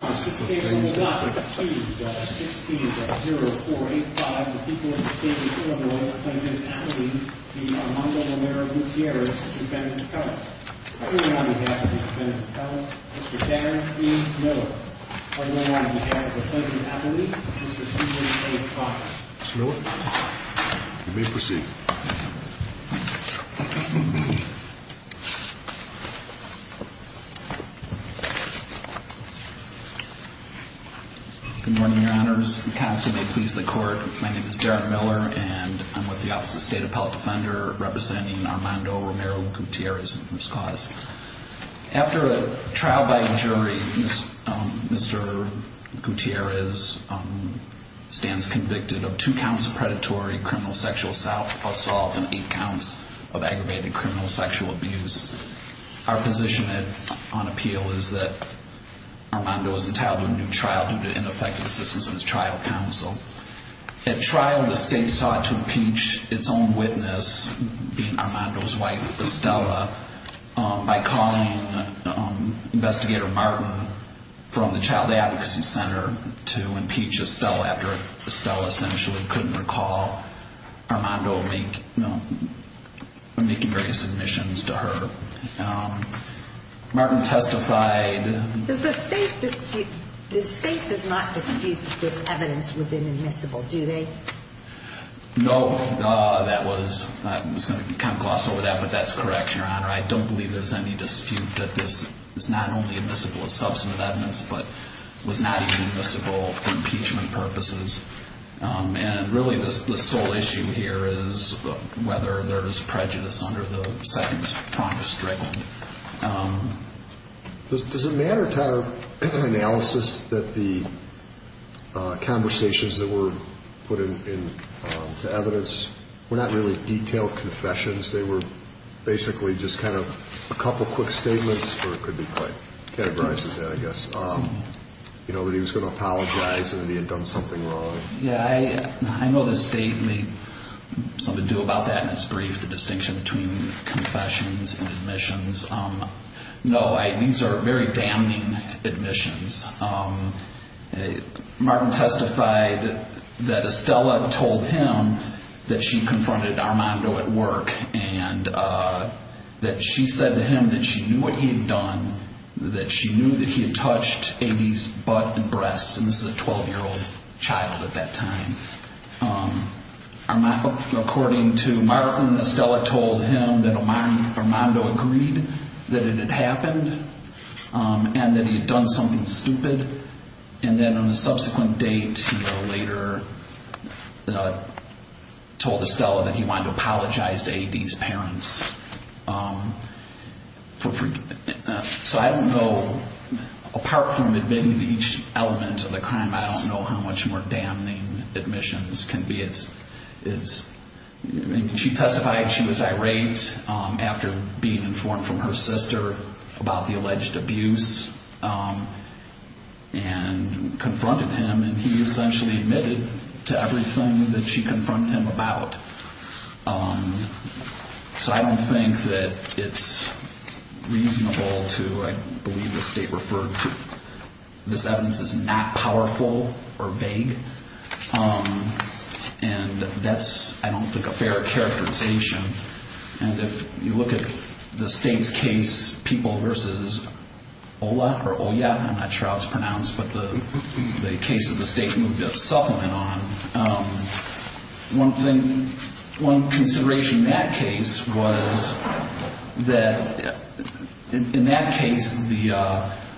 16.0485. The people of the state of Illinois claim as appellee the Armando Romero Gutierrez, defendant of color. On behalf of the defendant of color, Mr. Dan E. Miller. On behalf of the plaintiff's appellee, Mr. Stephen A. Fox. Mr. Miller, you may proceed. Good morning, your honors. Counsel may please the court. My name is Darren Miller and I'm with the Office of State Appellate Defender representing Armando Romero Gutierrez and his cause. After a trial by jury, Mr. Gutierrez stands convicted of two counts of predatory criminal sexual assault and eight counts of aggravated criminal sexual abuse. Our position on appeal is that Armando is entitled to a new trial due to ineffective assistance of his trial counsel. At trial, the state sought to impeach its own witness, being Armando's wife, Estella, by calling Investigator Martin from the Child Advocacy Center to impeach Estella after Estella essentially couldn't recall Armando making various admissions to her. Martin testified. The state does not dispute that this evidence was inadmissible, do they? No. I was going to gloss over that, but that's correct, your honor. I don't believe there's any dispute that this is not only admissible as substantive evidence, but was not admissible for impeachment purposes. And really the sole issue here is whether there is prejudice under the sentence promised directly. Does it matter to our analysis that the conversations that were put into evidence were not really detailed confessions? They were basically just kind of a couple quick statements, or it could be quite categorized as that, I guess. You know, that he was going to apologize and that he had done something wrong. Yeah, I know the state made some ado about that in its brief, the distinction between confessions and admissions. No, these are very damning admissions. Martin testified that Estella told him that she confronted Armando at work and that she said to him that she knew what he had done, that she knew that he had touched Amy's butt and breasts. And this is a 12-year-old child at that time. According to Martin, Estella told him that Armando agreed that it had happened and that he had done something stupid. And then on a subsequent date, he later told Estella that he wanted to apologize to Amy's parents. So I don't know, apart from admitting to each element of the crime, I don't know how much more damning admissions can be. She testified she was irate after being informed from her sister about the alleged abuse and confronted him. And he essentially admitted to everything that she confronted him about. So I don't think that it's reasonable to, I believe, the state referred to this evidence as not powerful or vague. And that's, I don't think, a fair characterization. And if you look at the state's case, People v. Ola or Oya, I'm not sure how it's pronounced, but the case that the state moved a supplement on, one thing, one consideration in that case was that in that case, the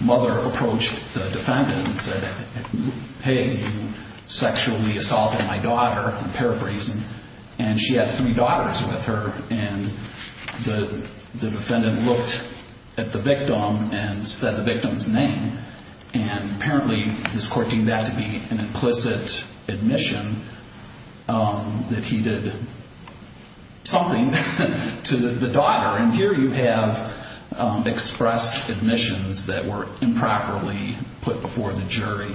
mother approached the defendant and said, hey, you sexually assaulted my daughter, I'm paraphrasing. And she had three daughters with her. And the defendant looked at the victim and said the victim's name. And apparently, this court deemed that to be an implicit admission that he did something to the daughter. And here you have express admissions that were improperly put before the jury.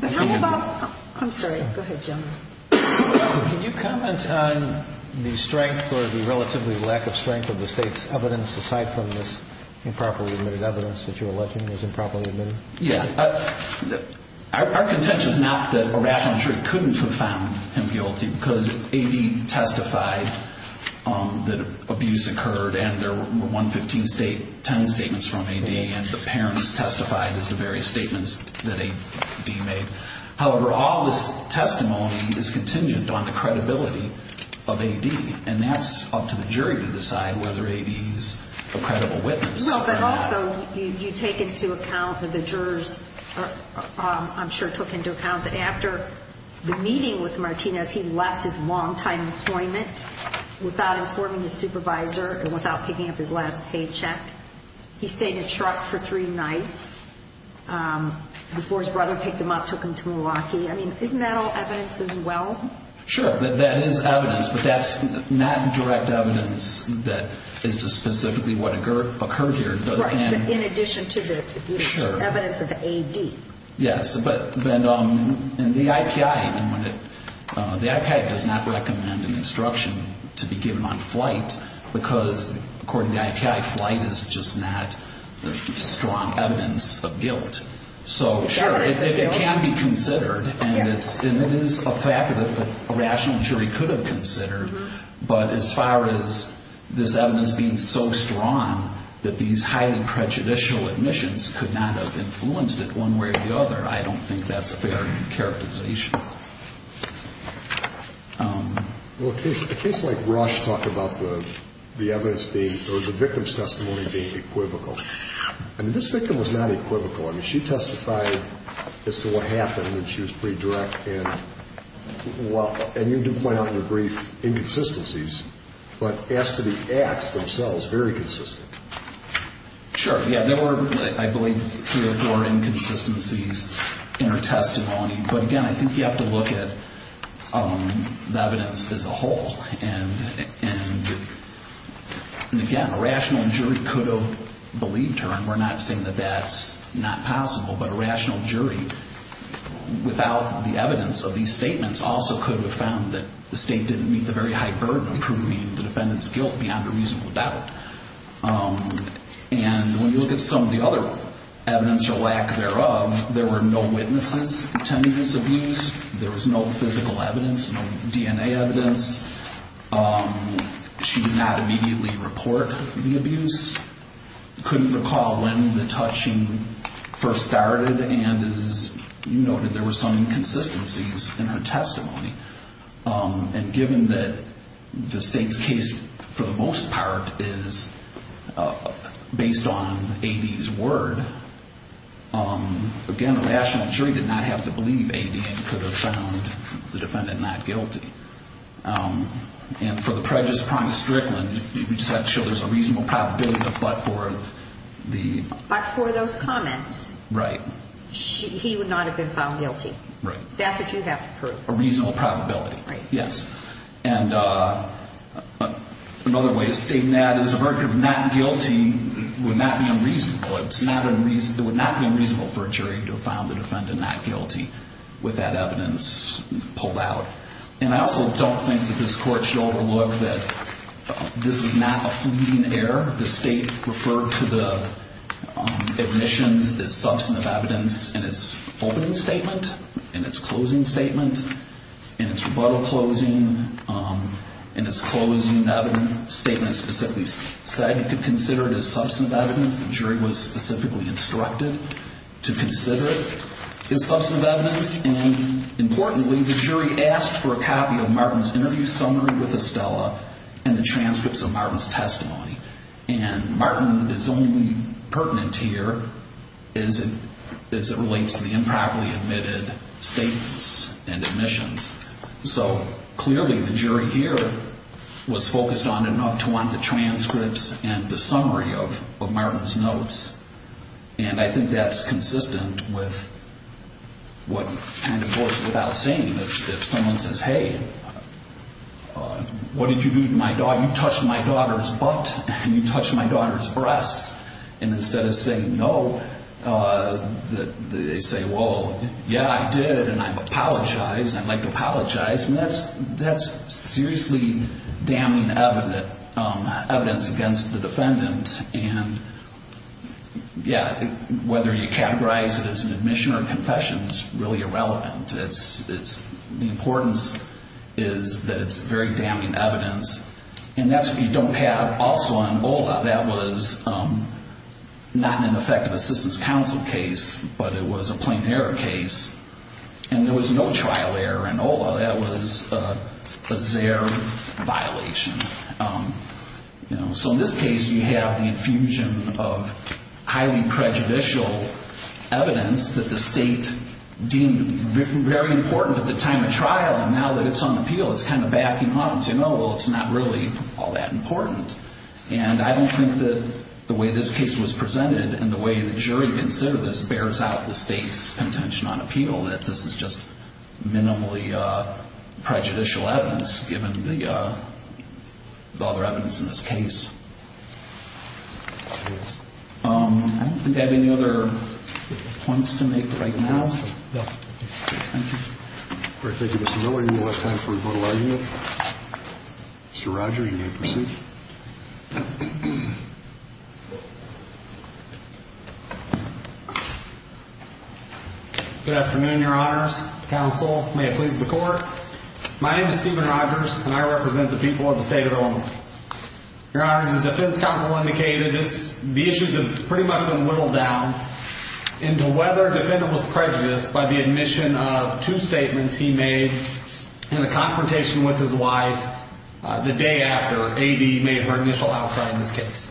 How about, I'm sorry, go ahead, gentlemen. Can you comment on the strength or the relatively lack of strength of the state's evidence, aside from this improperly admitted evidence that you're alleging was improperly admitted? Yeah. Our contention is not that a rational jury couldn't have found him guilty because A.D. testified that abuse occurred and there were 115 state ten statements from A.D. and the parents testified as the various statements that A.D. made. However, all this testimony is contingent on the credibility of A.D., and that's up to the jury to decide whether A.D. is a credible witness. But also, you take into account that the jurors, I'm sure, took into account that after the meeting with Martinez, he left his long-time employment without informing his supervisor and without picking up his last paycheck. He stayed in a truck for three nights before his brother picked him up, took him to Milwaukee. I mean, isn't that all evidence as well? Sure, that is evidence, but that's not direct evidence that is specifically what occurred here. Right, in addition to the evidence of A.D. Yes, but then in the IPI, the IPI does not recommend an instruction to be given on flight because according to the IPI, flight is just not strong evidence of guilt. So, sure, it can be considered, and it is a fact that a rational jury could have considered, but as far as this evidence being so strong that these highly prejudicial admissions could not have influenced it one way or the other, I don't think that's a fair characterization. Well, a case like Rush talked about the evidence being, or the victim's testimony being equivocal. I mean, this victim was not equivocal. I mean, she testified as to what happened, and she was pretty direct, and you do point out in your brief inconsistencies, but as to the acts themselves, very consistent. Sure, yeah, there were, I believe, three or four inconsistencies in her testimony, but again, I think you have to look at the evidence as a whole, and again, a rational jury could have believed her, and we're not saying that that's not possible, but a rational jury, without the evidence of these statements, also could have found that the state didn't meet the very high burden of proving the defendant's guilt beyond a reasonable doubt. And when you look at some of the other evidence or lack thereof, there were no witnesses attending this abuse. There was no physical evidence, no DNA evidence. She did not immediately report the abuse. Couldn't recall when the touching first started, and as you noted, there were some inconsistencies in her testimony. And given that the state's case, for the most part, is based on A.D.'s word, again, a rational jury did not have to believe A.D. and could have found the defendant not guilty. And for the prejudice pronged strickland, we just have to show there's a reasonable probability that but for the... But for those comments, he would not have been found guilty. That's what you have to prove. A reasonable probability, yes. And another way of stating that is a verdict of not guilty would not be unreasonable. It would not be unreasonable for a jury to have found the defendant not guilty with that evidence pulled out. And I also don't think that this Court should overlook that this was not a fleeting error. The state referred to the admissions as substantive evidence in its opening statement, in its closing statement, in its rebuttal closing, in its closing evidence statement, specifically said it could consider it as substantive evidence. The jury was specifically instructed to consider it as substantive evidence. And importantly, the jury asked for a copy of Martin's interview summary with Estella and the transcripts of Martin's testimony. And Martin is only pertinent here as it relates to the improperly admitted statements and admissions. So clearly the jury here was focused on enough to want the transcripts and the summary of Martin's notes. And I think that's consistent with what kind of goes without saying. If someone says, hey, what did you do to my daughter? You touched my daughter's butt. You touched my daughter's breasts. And instead of saying no, they say, well, yeah, I did, and I apologize. I'd like to apologize. And that's seriously damning evidence against the defendant. And, yeah, whether you categorize it as an admission or a confession is really irrelevant. The importance is that it's very damning evidence. And that's what you don't have also in OLA. That was not an effective assistance counsel case, but it was a plain error case. And there was no trial error in OLA. That was a ZARE violation. So in this case, you have the infusion of highly prejudicial evidence that the state deemed very important at the time of trial. And now that it's on appeal, it's kind of backing off and saying, oh, well, it's not really all that important. And I don't think that the way this case was presented and the way the jury considered this bears out the state's intention on appeal, that this is just minimally prejudicial evidence, given the other evidence in this case. I don't think I have any other points to make right now. No. Thank you. All right. Thank you, Mr. Miller. Any more time for rebuttal argument? Mr. Rogers, you may proceed. Good afternoon, Your Honors. Counsel, may it please the Court. My name is Stephen Rogers, and I represent the people of the state of Oklahoma. Your Honors, as the defense counsel indicated, the issues have pretty much been whittled down into whether the defendant was prejudiced by the admission of two statements he made in a confrontation with his wife the day after A.D. made her initial outcry in this case.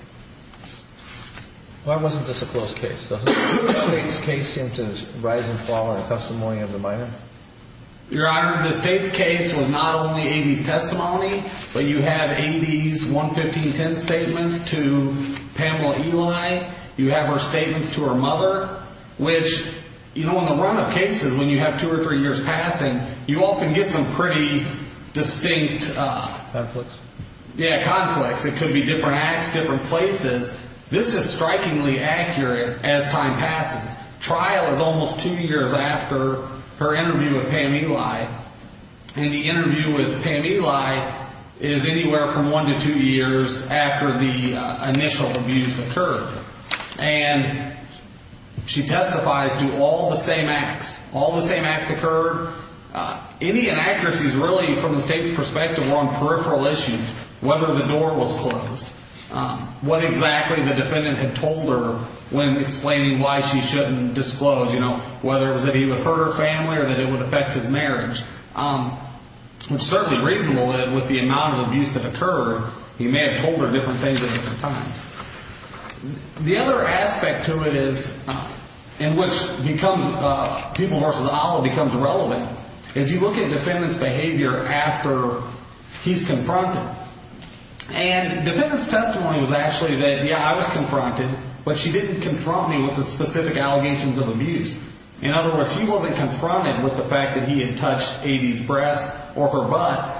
Why wasn't this a closed case? Doesn't the state's case seem to rise and fall in testimony of the minor? Your Honor, the state's case was not only A.D.'s testimony, but you have A.D.'s 11510 statements to Pamela Eli. You have her statements to her mother, which, you know, in the run-up cases, when you have two or three years passing, you often get some pretty distinct... Conflicts. Yeah, conflicts. It could be different acts, different places. This is strikingly accurate as time passes. Trial is almost two years after her interview with Pam Eli, and the interview with Pam Eli is anywhere from one to two years after the initial abuse occurred. And she testifies to all the same acts. All the same acts occurred. Any inaccuracies really from the state's perspective were on peripheral issues, whether the door was closed, what exactly the defendant had told her when explaining why she shouldn't disclose, you know, whether it was that he would hurt her family or that it would affect his marriage, which is certainly reasonable with the amount of abuse that occurred. He may have told her different things at different times. The other aspect to it is, and which becomes, people versus olive becomes relevant, is you look at defendant's behavior after he's confronted. And defendant's testimony was actually that, yeah, I was confronted, but she didn't confront me with the specific allegations of abuse. In other words, he wasn't confronted with the fact that he had touched A.D.'s breast or her butt.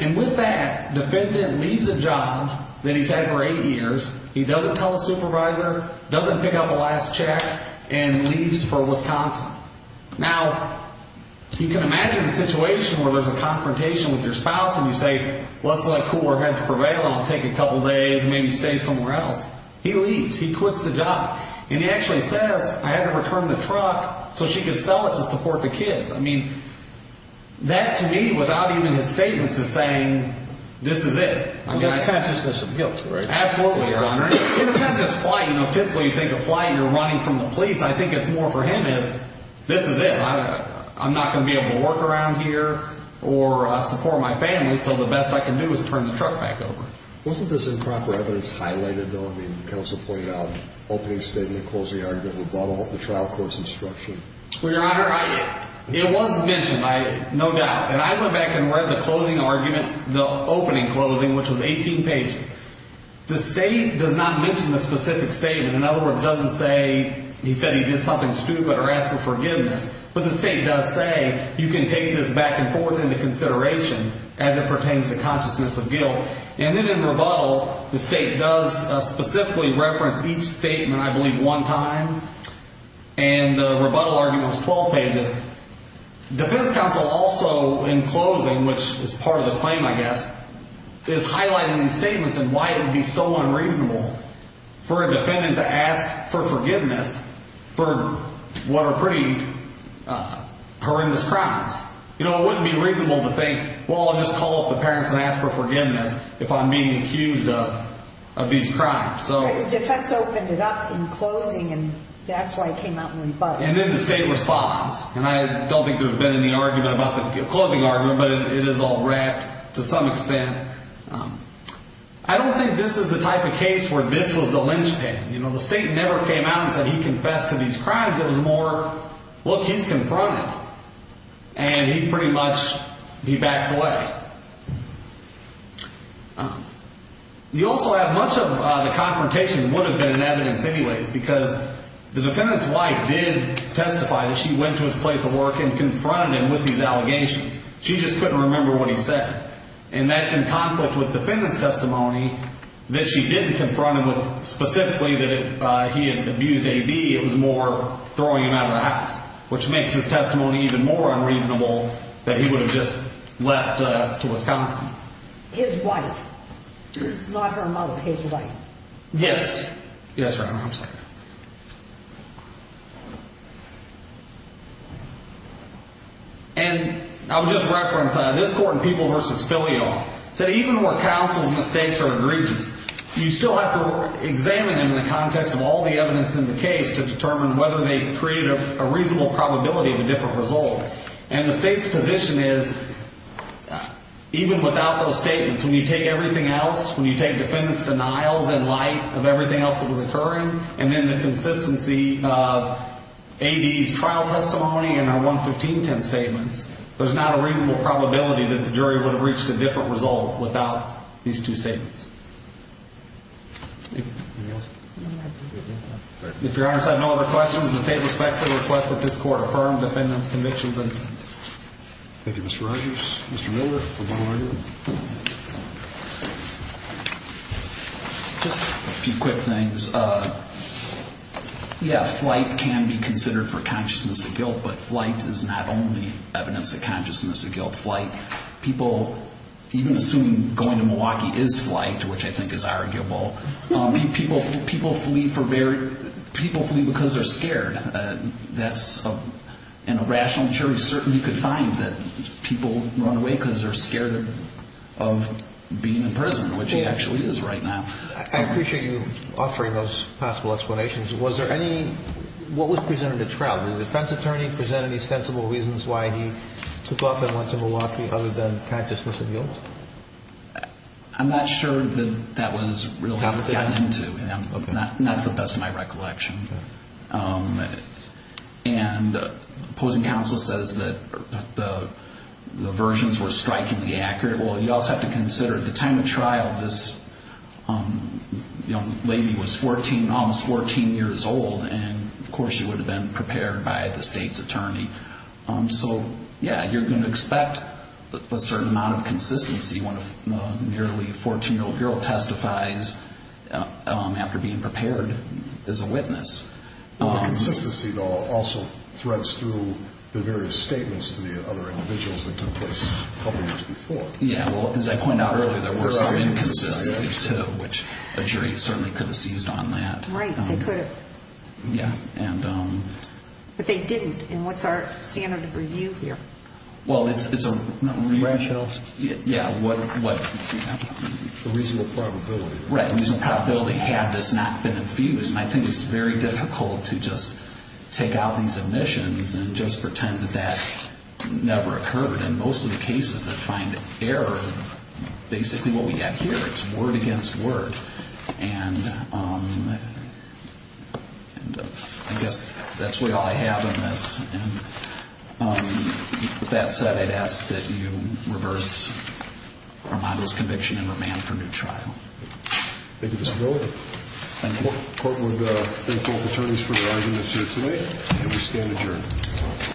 And with that, defendant leaves a job that he's had for eight years. He doesn't tell his supervisor, doesn't pick up the last check, and leaves for Wisconsin. Now, you can imagine a situation where there's a confrontation with your spouse and you say, well, it's not cool, I have to prevail, I'll take a couple days, maybe stay somewhere else. He leaves. He quits the job. And he actually says, I had to return the truck so she could sell it to support the kids. I mean, that to me, without even his statements, is saying, this is it. I mean, it's kind of just because of guilt, right? Absolutely, Your Honor. And it's not just flight. You know, typically you take a flight and you're running from the police. I think it's more for him is, this is it. I'm not going to be able to work around here or support my family, so the best I can do is turn the truck back over. Wasn't this improper evidence highlighted, though? I mean, counsel pointed out opening statement, closing argument, above all, the trial court's instruction. Well, Your Honor, it was mentioned, no doubt. And I went back and read the closing argument, the opening closing, which was 18 pages. The state does not mention the specific statement. In other words, it doesn't say he said he did something stupid or asked for forgiveness. But the state does say you can take this back and forth into consideration as it pertains to consciousness of guilt. And then in rebuttal, the state does specifically reference each statement, I believe, one time. And the rebuttal argument was 12 pages. Defense counsel also, in closing, which is part of the claim, I guess, is highlighting these statements and why it would be so unreasonable for a defendant to ask for forgiveness for what are pretty horrendous crimes. You know, it wouldn't be reasonable to think, well, I'll just call up the parents and ask for forgiveness if I'm being accused of these crimes. The defense opened it up in closing, and that's why it came out in rebuttal. And then the state responds. And I don't think there's been any argument about the closing argument, but it is all wrapped to some extent. I don't think this is the type of case where this was the linchpin. You know, the state never came out and said he confessed to these crimes. It was more, look, he's confronted, and he pretty much backs away. You also have much of the confrontation would have been in evidence anyways because the defendant's wife did testify that she went to his place of work and confronted him with these allegations. She just couldn't remember what he said. And that's in conflict with defendant's testimony that she didn't confront him with specifically that he had abused A.D. It was more throwing him out of the house, which makes his testimony even more unreasonable that he would have just left to Wisconsin. His wife. Not her mother, his wife. Yes. Yes, Your Honor. I'm sorry. And I'll just reference this court in People v. Filio. It said even where counsel's mistakes are egregious, you still have to examine them in the context of all the evidence in the case to determine whether they create a reasonable probability of a different result. And the state's position is even without those statements, when you take everything else, when you take defendant's denials in light of everything else that was occurring, and then the consistency of A.D.'s trial testimony and our 11510 statements, there's not a reasonable probability that the jury would have reached a different result without these two statements. Thank you. Anything else? No, Your Honor. If Your Honor's have no other questions, the state respects the request that this court affirm defendant's convictions. Thank you, Mr. Rogers. Mr. Miller, a final argument? Just a few quick things. Yeah, flight can be considered for consciousness of guilt, but flight is not only evidence of consciousness of guilt. People even assume going to Milwaukee is flight, which I think is arguable. People flee because they're scared. And a rational jury certainly could find that people run away because they're scared of being in prison, which he actually is right now. I appreciate you offering those possible explanations. What was presented at trial? Did the defense attorney present any ostensible reasons why he took off and went to Milwaukee other than consciousness of guilt? I'm not sure that that was really gotten into. That's the best of my recollection. And opposing counsel says that the versions were strikingly accurate. Well, you also have to consider at the time of trial, this young lady was almost 14 years old, and, of course, she would have been prepared by the state's attorney. So, yeah, you're going to expect a certain amount of consistency when a nearly 14-year-old girl testifies after being prepared as a witness. The consistency, though, also threads through the various statements to the other individuals that took place a couple years before. Yeah, well, as I pointed out earlier, there were some inconsistencies, too, which a jury certainly could have seized on that. Right, they could have. Yeah. But they didn't. And what's our standard of review here? Well, it's a reasonable probability. Right, reasonable probability had this not been infused. And I think it's very difficult to just take out these omissions and just pretend that that never occurred. And most of the cases that find error, basically what we have here, it's word against word. And I guess that's really all I have on this. And with that said, I'd ask that you reverse Armando's conviction and remand for new trial. Thank you, Mr. Miller. Court would thank both attorneys for their arguments here today, and we stand adjourned.